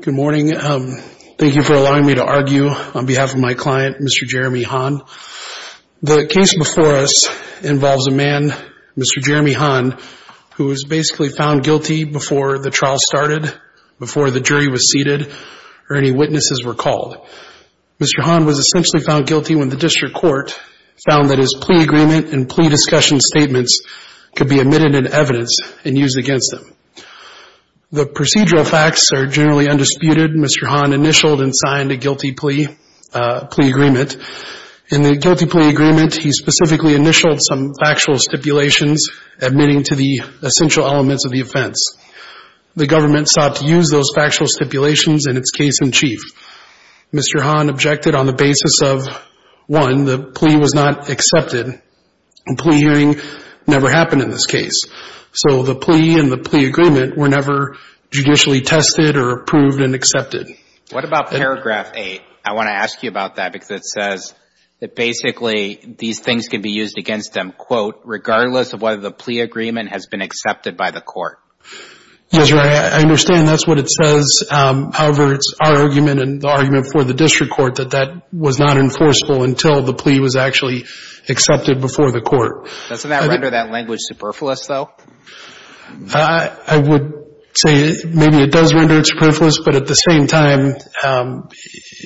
Good morning. Thank you for allowing me to argue on behalf of my client, Mr. Jeremy Hahn. The case before us involves a man, Mr. Jeremy Hahn, who was basically found guilty before the trial started, before the jury was seated, or any witnesses were called. Mr. Hahn was essentially found guilty when the district court found that his plea agreement and plea discussion statements could be omitted in evidence and used against him. The procedural facts are generally undisputed. Mr. Hahn initialed and signed a guilty plea agreement. In the guilty plea agreement, he specifically initialed some factual stipulations admitting to the essential elements of the offense. The government sought to use those factual stipulations in its case in chief. Mr. Hahn objected on the basis of, one, the plea was not accepted, and plea hearing never happened in this case. So the plea and the plea agreement were never judicially tested or approved and accepted. What about paragraph 8? I want to ask you about that because it says that basically these things can be used against them, quote, regardless of whether the plea agreement has been accepted by the court. Yes, I understand. That's what it says. However, it's our argument and the argument for the district court that that was not enforceable until the plea was actually accepted before the court. Doesn't that render that language superfluous, though? I would say maybe it does render it superfluous, but at the same time,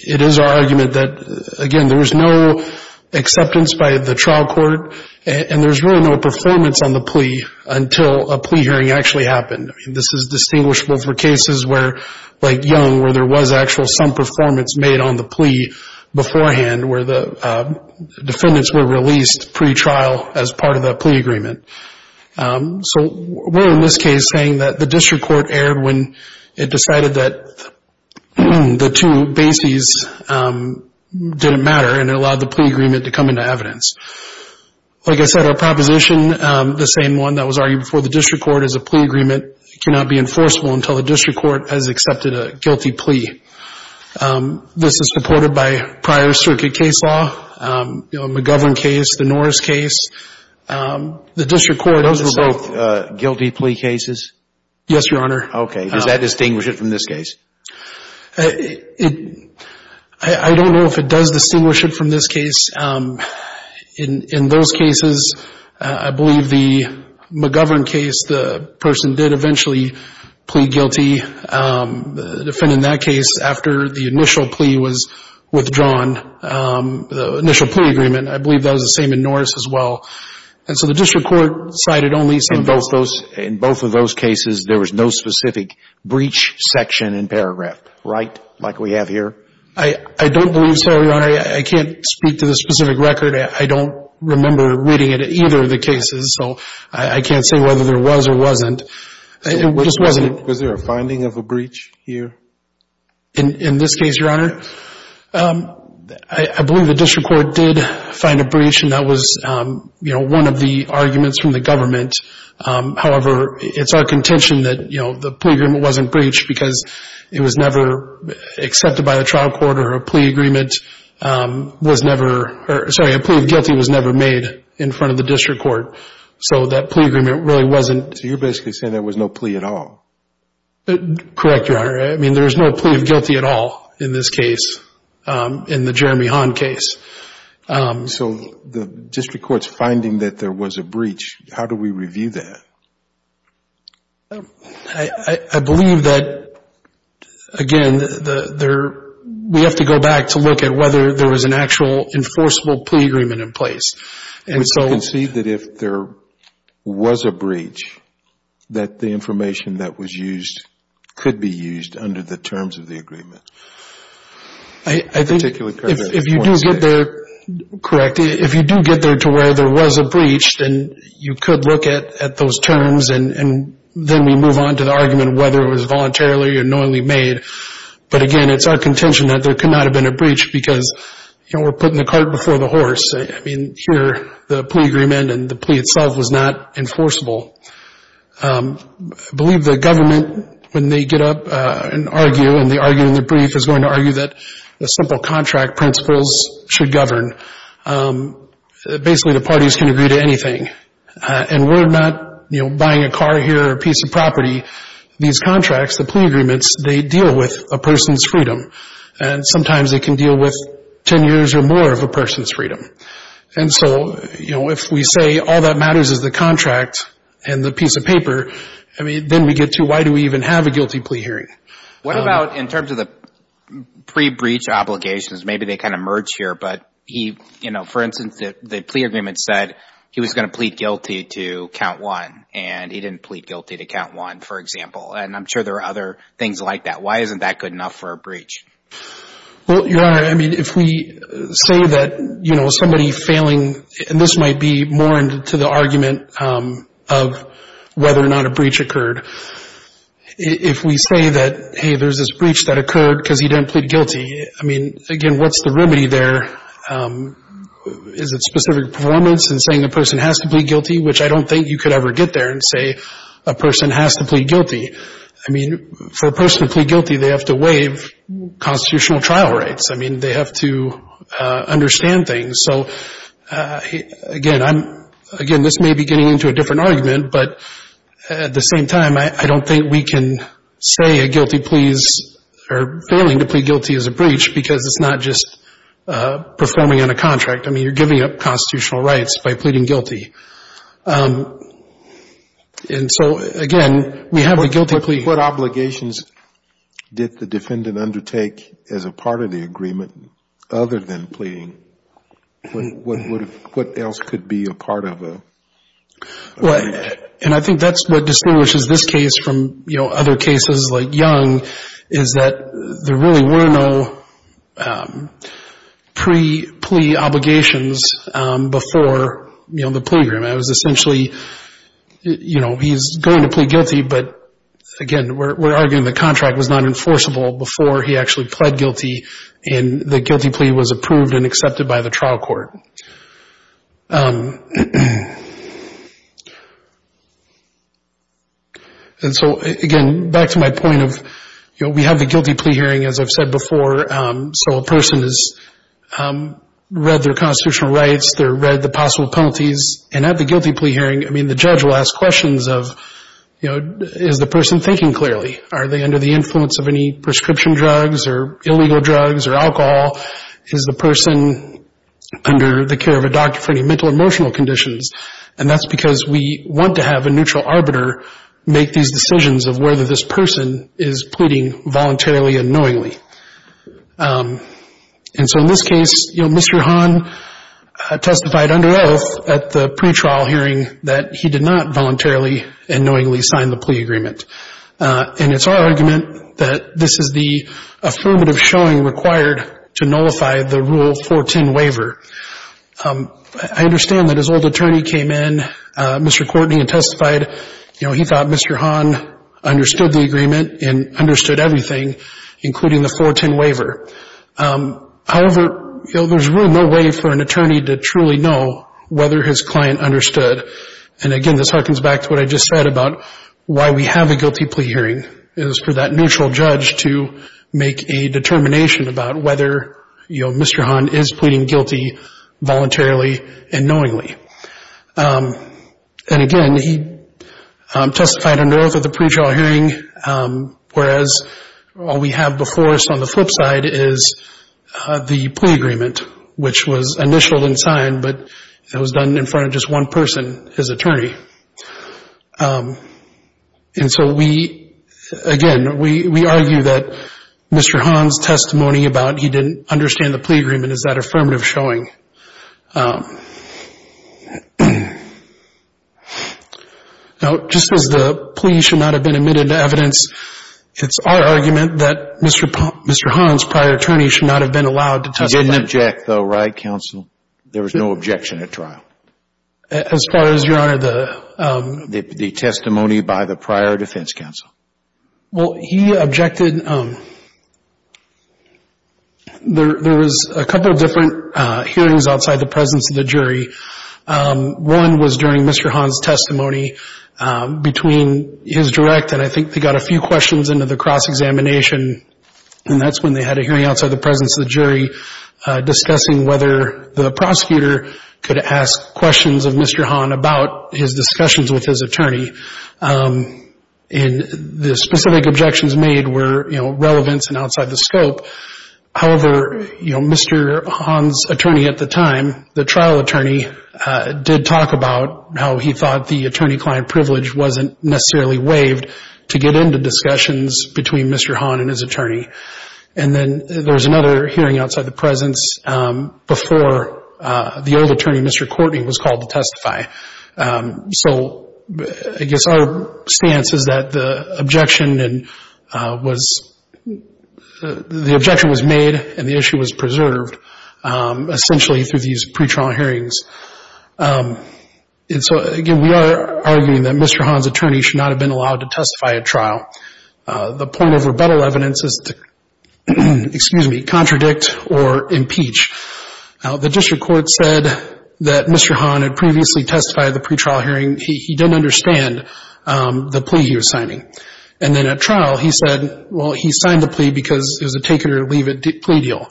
it is our argument that, again, there was no acceptance by the trial court and there was really no performance on the plea until a plea hearing actually happened. This is distinguishable for cases where, like Young, where there was actual some performance made on the plea beforehand, where the defendants were released pretrial as part of that plea agreement. So we're, in this case, saying that the district court erred when it decided that the two bases didn't matter and it allowed the plea agreement to come into evidence. Like I said, our proposition, the same one that was argued before the district court as a plea agreement, cannot be enforceable until the district court has accepted a guilty plea. This is supported by prior circuit case law, the McGovern case, the Norris case. The district court, those were both. Guilty plea cases? Yes, Your Honor. Okay. Does that distinguish it from this case? I don't know if it does distinguish it from this case. In those cases, I believe the McGovern case, the person did eventually plea guilty. The defendant in that case, after the initial plea was withdrawn, the initial plea agreement, I believe that was the same in Norris as well. And so the district court cited only some of those. In both of those cases, there was no specific breach section in paragraph, right, like we have here? I don't believe so, Your Honor. I can't speak to the specific record. I don't remember reading it in either of the cases, so I can't say whether there was or wasn't. Was there a finding of a breach here? In this case, Your Honor, I believe the district court did find a breach, and that was, you know, one of the arguments from the government. However, it's our contention that, you know, the plea agreement wasn't breached because it was never accepted by the trial court or a plea agreement was never – sorry, a plea of guilty was never made in front of the district court. So that plea agreement really wasn't. So you're basically saying there was no plea at all? Correct, Your Honor. I mean, there was no plea of guilty at all in this case, in the Jeremy Hahn case. So the district court's finding that there was a breach, how do we review that? I believe that, again, we have to go back to look at whether there was an actual enforceable plea agreement in place. Would you concede that if there was a breach, that the information that was used could be used under the terms of the agreement? I think if you do get there – correct, if you do get there to where there was a breach, then you could look at those terms, and then we move on to the argument of whether it was voluntarily or knowingly made. But, again, it's our contention that there could not have been a breach because, you know, we're putting the cart before the horse. I mean, here, the plea agreement and the plea itself was not enforceable. I believe the government, when they get up and argue, and the argument in the brief is going to argue that the simple contract principles should govern. Basically, the parties can agree to anything. And we're not, you know, buying a car here or a piece of property. These contracts, the plea agreements, they deal with a person's freedom. And sometimes they can deal with 10 years or more of a person's freedom. And so, you know, if we say all that matters is the contract and the piece of paper, I mean, then we get to why do we even have a guilty plea hearing. What about in terms of the pre-breach obligations? Maybe they kind of merge here. But, you know, for instance, the plea agreement said he was going to plead guilty to count one, and he didn't plead guilty to count one, for example. And I'm sure there are other things like that. Why isn't that good enough for a breach? Well, Your Honor, I mean, if we say that, you know, somebody failing, and this might be more into the argument of whether or not a breach occurred. If we say that, hey, there's this breach that occurred because he didn't plead guilty, I mean, again, what's the remedy there? Is it specific performance in saying the person has to plead guilty, which I don't think you could ever get there and say a person has to plead guilty. I mean, for a person to plead guilty, they have to waive constitutional trial rights. I mean, they have to understand things. So, again, I'm, again, this may be getting into a different argument, but at the same time I don't think we can say a guilty plea is, or failing to plead guilty is a breach because it's not just performing on a contract. I mean, you're giving up constitutional rights by pleading guilty. And so, again, we have a guilty plea. But what obligations did the defendant undertake as a part of the agreement other than pleading? What else could be a part of a plea? Well, and I think that's what distinguishes this case from, you know, other cases like Young is that there really were no pre-plea obligations before, you know, the plea agreement. It was essentially, you know, he's going to plead guilty, but, again, we're arguing the contract was not enforceable before he actually pled guilty and the guilty plea was approved and accepted by the trial court. And so, again, back to my point of, you know, we have the guilty plea hearing, as I've said before, so a person has read their constitutional rights, they've read the possible penalties. And at the guilty plea hearing, I mean, the judge will ask questions of, you know, is the person thinking clearly? Are they under the influence of any prescription drugs or illegal drugs or alcohol? Is the person under the care of a doctor for any mental or emotional conditions? And that's because we want to have a neutral arbiter make these decisions of whether this person is pleading voluntarily and knowingly. And so in this case, you know, Mr. Hahn testified under oath at the pretrial hearing that he did not voluntarily and knowingly sign the plea agreement. And it's our argument that this is the affirmative showing required to nullify the Rule 410 waiver. I understand that his old attorney came in, Mr. Courtney, and testified, you know, he thought Mr. Hahn understood the agreement and understood everything, including the 410 waiver. However, you know, there's really no way for an attorney to truly know whether his client understood. And, again, this harkens back to what I just said about why we have a guilty plea hearing, is for that neutral judge to make a determination about whether, you know, Mr. Hahn is pleading guilty voluntarily and knowingly. And, again, he testified under oath at the pretrial hearing, whereas all we have before us on the flip side is the plea agreement, which was initialed and signed, but it was done in front of just one person, his attorney. And so we, again, we argue that Mr. Hahn's testimony about he didn't understand the plea agreement is that affirmative showing. Now, just as the plea should not have been admitted to evidence, it's our argument that Mr. Hahn's prior attorney should not have been allowed to testify. I didn't object, though, right, counsel? There was no objection at trial. As far as, Your Honor, the – The testimony by the prior defense counsel. Well, he objected. There was a couple of different hearings outside the presence of the jury. One was during Mr. Hahn's testimony between his direct, and I think they got a few questions into the cross-examination, and that's when they had a hearing outside the presence of the jury discussing whether the prosecutor could ask questions of Mr. Hahn about his discussions with his attorney. And the specific objections made were, you know, relevance and outside the scope. However, you know, Mr. Hahn's attorney at the time, the trial attorney, did talk about how he thought the attorney-client privilege wasn't necessarily waived to get into discussions between Mr. Hahn and his attorney. And then there was another hearing outside the presence before the old attorney, Mr. Courtney, was called to testify. So I guess our stance is that the objection was made and the issue was preserved, essentially through these pretrial hearings. And so, again, we are arguing that Mr. Hahn's attorney should not have been allowed to testify at trial. The point of rebuttal evidence is to, excuse me, contradict or impeach. The district court said that Mr. Hahn had previously testified at the pretrial hearing. He didn't understand the plea he was signing. And then at trial, he said, well, he signed the plea because it was a take-it-or-leave-it plea deal.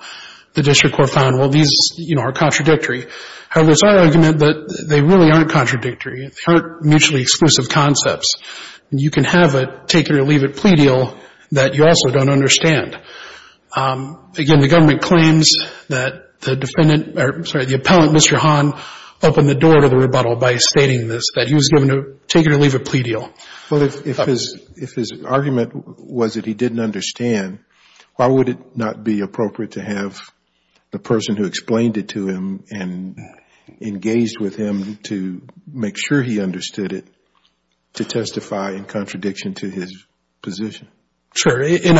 The district court found, well, these, you know, are contradictory. However, it's our argument that they really aren't contradictory. They aren't mutually exclusive concepts. You can have a take-it-or-leave-it plea deal that you also don't understand. Again, the government claims that the defendant, or I'm sorry, the appellant, Mr. Hahn, opened the door to the rebuttal by stating this, that he was given a take-it-or-leave-it plea deal. Well, if his argument was that he didn't understand, why would it not be appropriate to have the person who explained it to him and engaged with him to make sure he understood it to testify in contradiction to his position? Sure. And,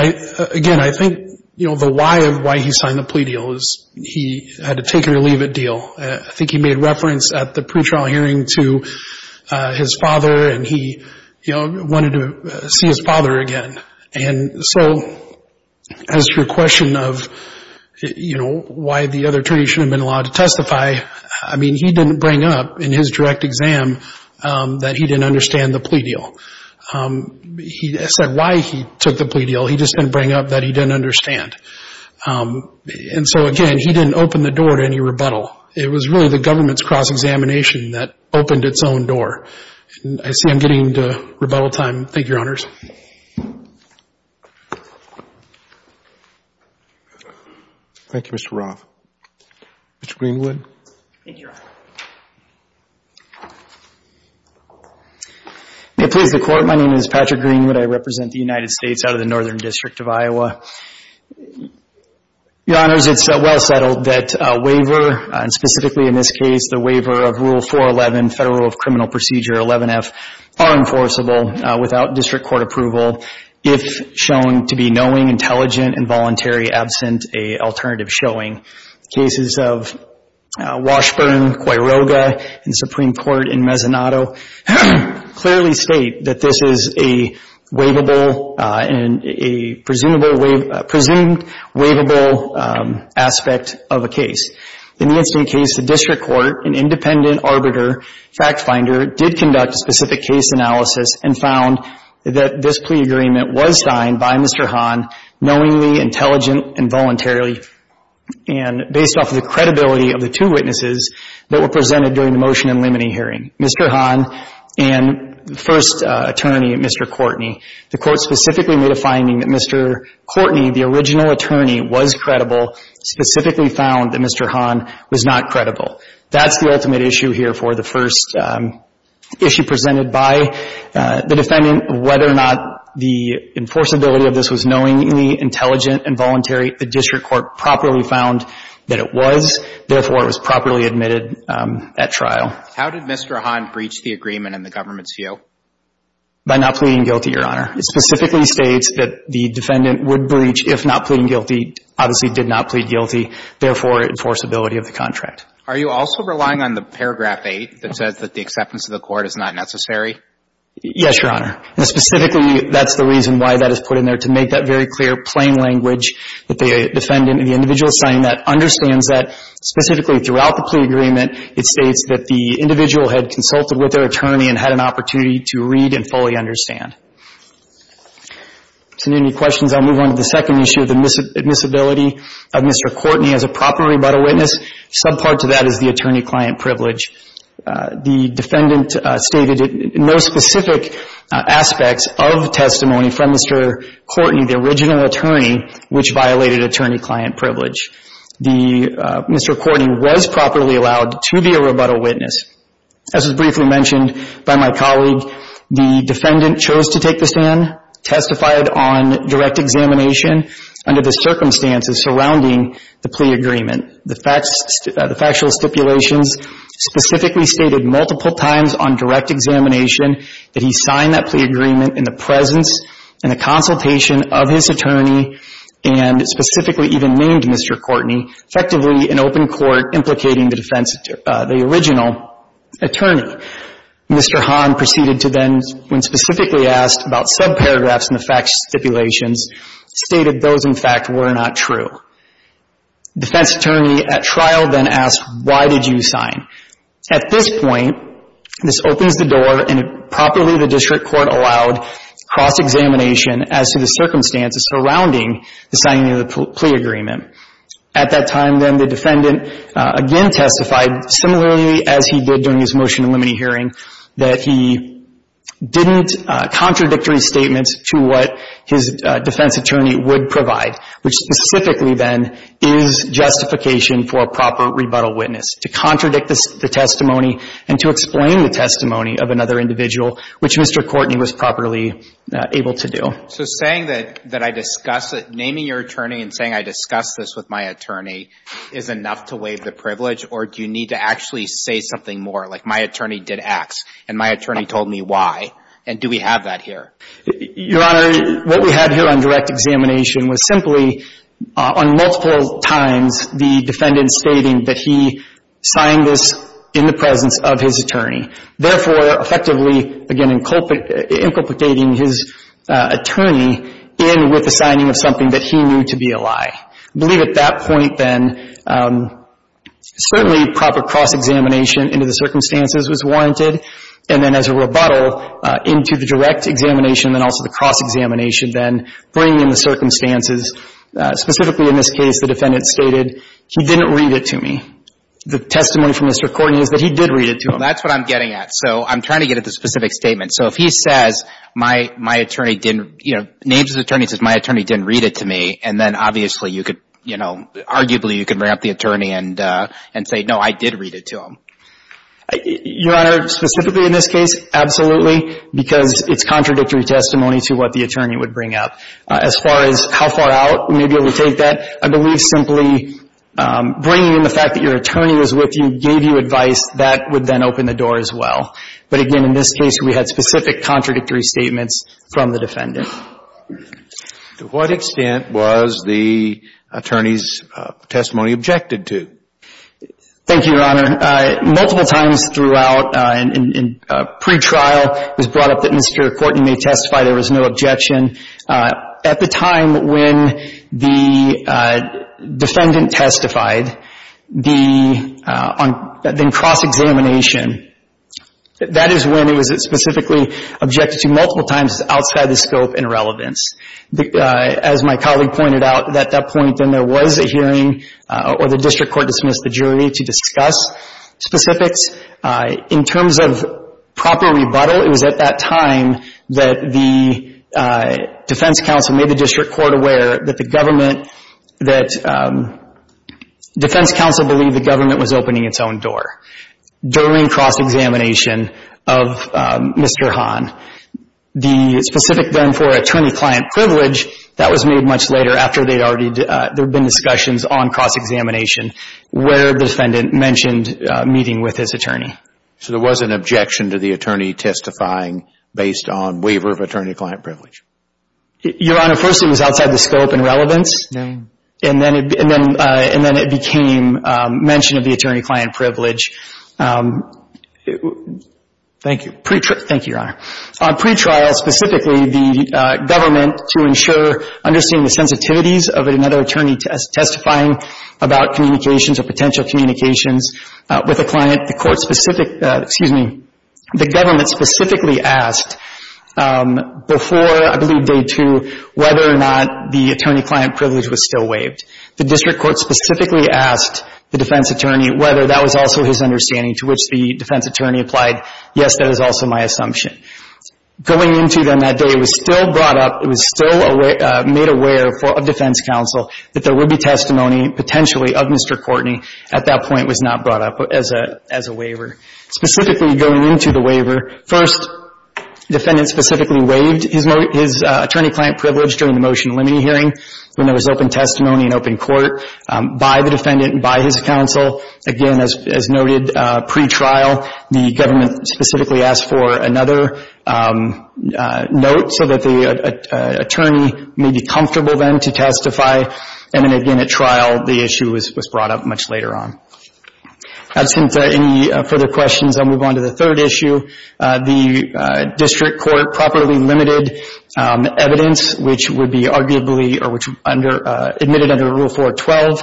again, I think, you know, the why of why he signed the plea deal is he had a take-it-or-leave-it deal. I think he made reference at the pretrial hearing to his father, and he, you know, wanted to see his father again. And so as to your question of, you know, why the other attorney shouldn't have been allowed to testify, I mean, he didn't bring up in his direct exam that he didn't understand the plea deal. He said why he took the plea deal. He just didn't bring up that he didn't understand. And so, again, he didn't open the door to any rebuttal. It was really the government's cross-examination that opened its own door. And I see I'm getting to rebuttal time. Thank you, Your Honors. Thank you, Mr. Roth. Mr. Greenwood. Thank you, Your Honor. May it please the Court, my name is Patrick Greenwood. I represent the United States out of the Northern District of Iowa. Your Honors, it's well settled that a waiver, and specifically in this case, the waiver of Rule 411, Federal Rule of Criminal Procedure 11F, are enforceable without district court approval if shown to be knowing, intelligent, and voluntary absent a alternative showing. The cases of Washburn, Quiroga, and Supreme Court in Mezzanotto clearly state that this is a waivable and a presumed waivable aspect of a case. In the incident case, the district court, an independent arbiter, fact finder, did conduct a specific case analysis and found that this plea agreement was signed by Mr. Hahn, knowingly, intelligent, and voluntarily, and based off of the credibility of the two witnesses that were presented during the motion and limiting hearing, Mr. Hahn and the first attorney, Mr. Courtney. The court specifically made a finding that Mr. Courtney, the original attorney, was credible, specifically found that Mr. Hahn was not credible. That's the ultimate issue here for the first issue presented by the defendant, whether or not the enforceability of this was knowingly, intelligent, and voluntary. The district court properly found that it was. Therefore, it was properly admitted at trial. How did Mr. Hahn breach the agreement in the government's view? By not pleading guilty, Your Honor. It specifically states that the defendant would breach, if not pleading guilty, obviously did not plead guilty, therefore, enforceability of the contract. Are you also relying on the paragraph 8 that says that the acceptance of the court is not necessary? Yes, Your Honor. And specifically, that's the reason why that is put in there, to make that very clear, plain language that the defendant and the individual signing that understands that specifically throughout the plea agreement, it states that the individual had consulted with their attorney and had an opportunity to read and fully understand. If there are any questions, I'll move on to the second issue, the admissibility of Mr. Courtney as a proper rebuttal witness. Subpart to that is the attorney-client privilege. The defendant stated no specific aspects of testimony from Mr. Courtney, the original attorney, which violated attorney-client privilege. Mr. Courtney was properly allowed to be a rebuttal witness. As was briefly mentioned by my colleague, the defendant chose to take the stand, testified on direct examination under the circumstances surrounding the plea agreement. The factual stipulations specifically stated multiple times on direct examination that he signed that plea agreement in the presence and the consultation of his attorney and specifically even named Mr. Courtney, effectively an open court implicating the original attorney. Mr. Hahn proceeded to then, when specifically asked about subparagraphs in the factual stipulations, stated those, in fact, were not true. Defense attorney at trial then asked, why did you sign? At this point, this opens the door and properly the district court allowed cross-examination as to the circumstances surrounding the signing of the plea agreement. At that time, then, the defendant again testified, similarly as he did during his motion to eliminate hearing, that he didn't contradictory statements to what his defense attorney would provide, which specifically, then, is justification for a proper rebuttal witness, to contradict the testimony and to explain the testimony of another individual, which Mr. Courtney was properly able to do. So saying that I discuss it, naming your attorney and saying I discussed this with my attorney is enough to waive the privilege, or do you need to actually say something more, like my attorney did X and my attorney told me Y, and do we have that here? Your Honor, what we had here on direct examination was simply, on multiple times, the defendant stating that he signed this in the presence of his attorney. Therefore, effectively, again, inculpicating his attorney in with the signing of something that he knew to be a lie. I believe at that point, then, certainly proper cross-examination into the circumstances was warranted, and then as a rebuttal into the direct examination, then also the cross-examination, then bringing the circumstances. Specifically in this case, the defendant stated he didn't read it to me. The testimony from Mr. Courtney is that he did read it to him. That's what I'm getting at. So I'm trying to get at the specific statement. So if he says my attorney didn't, you know, names his attorney and says my attorney didn't read it to me, and then obviously you could, you know, arguably you could bring up the attorney and say, no, I did read it to him. Your Honor, specifically in this case, absolutely, because it's contradictory testimony to what the attorney would bring up. As far as how far out, we may be able to take that. I believe simply bringing in the fact that your attorney was with you gave you advice that would then open the door as well. But again, in this case, we had specific contradictory statements from the defendant. To what extent was the attorney's testimony objected to? Thank you, Your Honor. Multiple times throughout, in pretrial, it was brought up that Mr. Courtney may testify. There was no objection. At the time when the defendant testified, the cross-examination, that is when it was specifically objected to multiple times outside the scope and relevance. As my colleague pointed out, at that point then there was a hearing or the district court dismissed the jury to discuss specifics. In terms of proper rebuttal, it was at that time that the defense counsel made the district court aware that the government, that defense counsel believed the government was opening its own door during cross-examination of Mr. Hahn. The specific then for attorney-client privilege, that was made much later after there had been discussions on cross-examination where the defendant mentioned meeting with his attorney. So there was an objection to the attorney testifying based on waiver of attorney-client privilege? Your Honor, first it was outside the scope and relevance. No. And then it became mention of the attorney-client privilege. Thank you. Pre-trial. Thank you, Your Honor. On pre-trial specifically, the government to ensure understanding the sensitivities of another attorney testifying about communications or potential communications with a client, the court specific, excuse me, the government specifically asked before I believe day two whether or not the attorney-client privilege was still waived. The district court specifically asked the defense attorney whether that was also his understanding to which the defense attorney applied. Yes, that is also my assumption. Going into then that day, it was still brought up, it was still made aware of defense counsel that there would be testimony potentially of Mr. Courtney at that point was not brought up as a waiver. Specifically going into the waiver, first defendant specifically waived his attorney-client privilege during the motion limiting hearing when there was open testimony and open court by the defendant and by his counsel. Again, as noted, pre-trial, the government specifically asked for another note so that the attorney may be comfortable then to testify. And then again, at trial, the issue was brought up much later on. Absent any further questions, I'll move on to the third issue. The district court properly limited evidence which would be arguably or which under, admitted under Rule 412.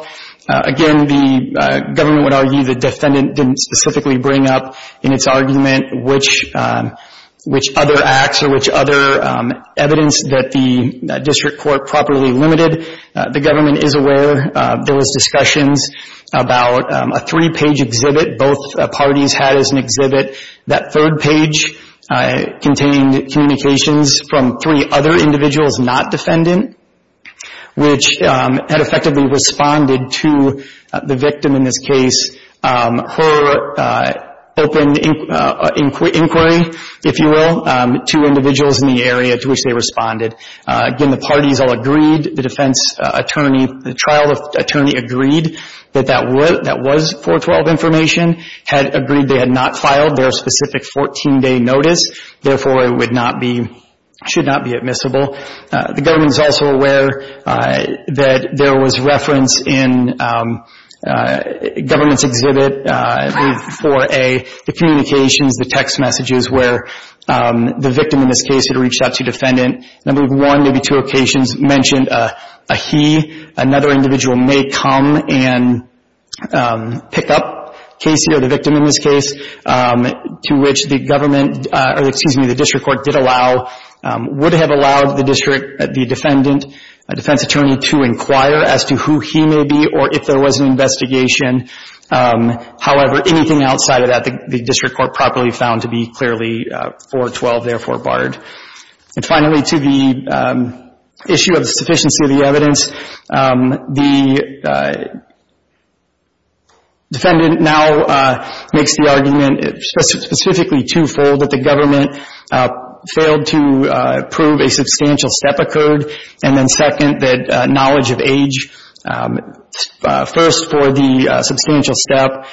Again, the government would argue the defendant didn't specifically bring up in its argument which other acts or which other evidence that the district court properly limited. The government is aware there was discussions about a three-page exhibit both parties had as an exhibit. That third page contained communications from three other individuals not defendant which had effectively responded to the victim in this case. Her open inquiry, if you will, to individuals in the area to which they responded. Again, the parties all agreed. The defense attorney, the trial attorney agreed that that was 412 information, had agreed they had not filed their specific 14-day notice. Therefore, it would not be, should not be admissible. The government is also aware that there was reference in government's exhibit, Rule 4A, the communications, the text messages where the victim in this case had reached out to defendant. Number one, maybe two occasions mentioned a he, another individual may come and pick up Casey or the victim in this case to which the government, or excuse me, the district court did allow, would have allowed the district, the defendant, defense attorney to inquire as to who he may be or if there was an investigation. However, anything outside of that the district court properly found to be clearly 412, therefore barred. And finally, to the issue of sufficiency of the evidence, the defendant now makes the argument specifically two-fold, that the government failed to prove a substantial step occurred. And then second, that knowledge of age, first for the substantial step.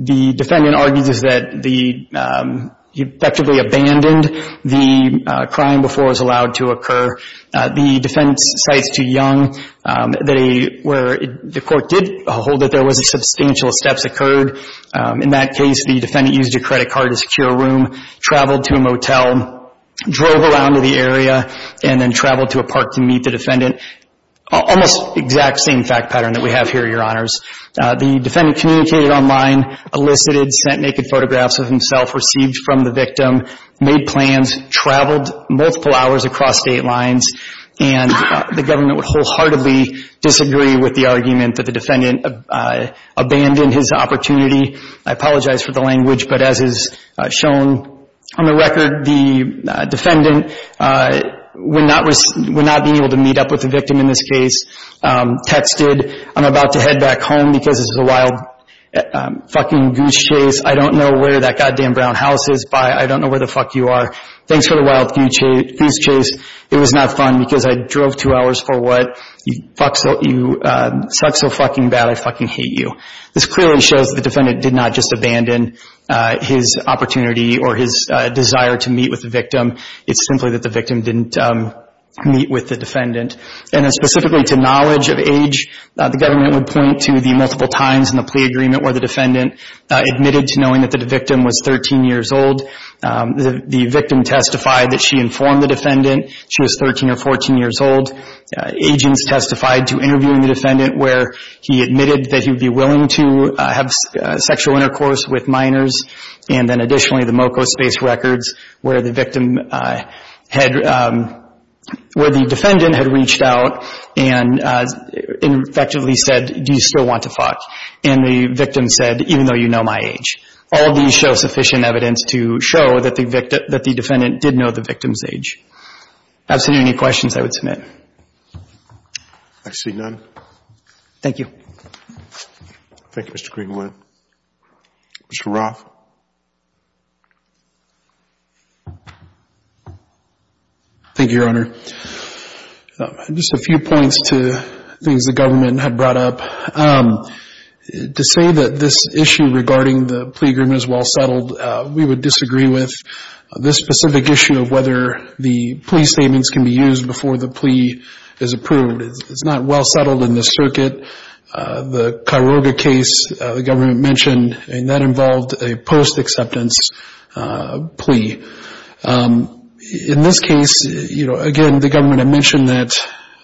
The defendant argues that the, effectively abandoned the crime before it was allowed to occur. The defendant cites to Young that a, where the court did hold that there was a substantial step occurred. In that case, the defendant used a credit card to secure a room, traveled to a motel, drove around to the area, and then traveled to a park to meet the defendant. Almost exact same fact pattern that we have here, Your Honors. The defendant communicated online, elicited, sent naked photographs of himself, received from the victim, made plans, traveled multiple hours across state lines, and the government would wholeheartedly disagree with the argument that the defendant made in his opportunity. I apologize for the language, but as is shown on the record, the defendant would not be able to meet up with the victim in this case. Texted, I'm about to head back home because this is a wild fucking goose chase. I don't know where that goddamn brown house is by. I don't know where the fuck you are. Thanks for the wild goose chase. It was not fun because I drove two hours for what. You suck so fucking bad. I fucking hate you. This clearly shows the defendant did not just abandon his opportunity or his desire to meet with the victim. It's simply that the victim didn't meet with the defendant. And then specifically to knowledge of age, the government would point to the multiple times in the plea agreement where the defendant admitted to knowing that the victim was 13 years old. The victim testified that she informed the defendant she was 13 or 14 years old. Agents testified to interviewing the defendant where he admitted that he would be willing to have sexual intercourse with minors. And then additionally, the MoCo space records where the victim had – where the defendant had reached out and effectively said, do you still want to fuck? And the victim said, even though you know my age. All these show sufficient evidence to show that the defendant did know the victim's age. Absolutely any questions I would submit. I see none. Thank you. Thank you, Mr. Greenwood. Mr. Roth. Thank you, Your Honor. Just a few points to things the government had brought up. To say that this issue regarding the plea agreement is well settled, we would disagree with this specific issue of whether the plea statements can be used before the plea is approved. It's not well settled in this circuit. The Kairoga case the government mentioned, that involved a post-acceptance plea. In this case, again, the government had mentioned that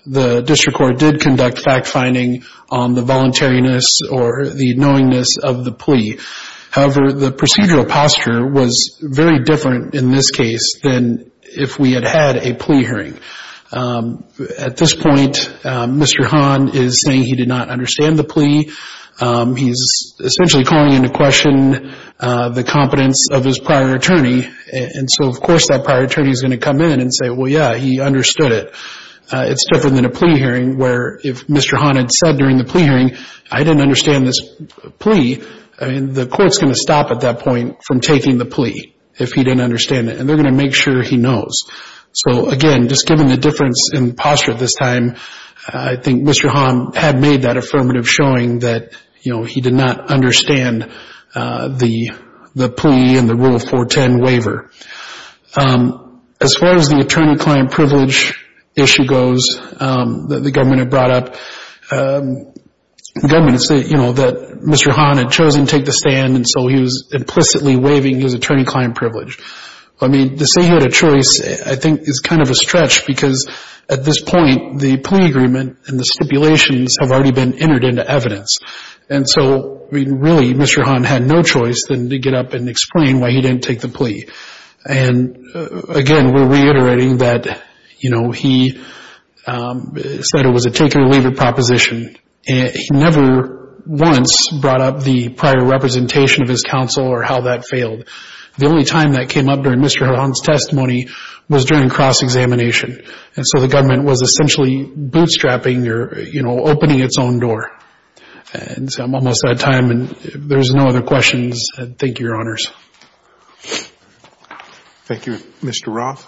the district court did conduct fact-finding on the voluntariness or the knowingness of the plea. However, the procedural posture was very different in this case than if we had had a plea hearing. At this point, Mr. Hahn is saying he did not understand the plea. He's essentially calling into question the competence of his prior attorney. And so, of course, that prior attorney is going to come in and say, well, yeah, he understood it. It's different than a plea hearing where if Mr. Hahn had said during the plea hearing, I didn't understand this plea. The court is going to stop at that point from taking the plea if he didn't understand it, and they're going to make sure he knows. So, again, just given the difference in posture at this time, I think Mr. Hahn had made that affirmative showing that he did not understand the plea and the Rule 410 waiver. As far as the attorney-client privilege issue goes that the government had brought up, the government had said, you know, that Mr. Hahn had chosen to take the stand, and so he was implicitly waiving his attorney-client privilege. I mean, to say he had a choice, I think, is kind of a stretch because at this point, the plea agreement and the stipulations have already been entered into evidence. And so, really, Mr. Hahn had no choice than to get up and explain why he didn't take the plea. And, again, we're reiterating that, you know, he said it was a take-or-leave proposition. He never once brought up the prior representation of his counsel or how that failed. The only time that came up during Mr. Hahn's testimony was during cross-examination. And so the government was essentially bootstrapping or, you know, opening its own door. And so I'm almost out of time, and if there's no other questions, thank you, Your Honors. Thank you, Mr. Roth.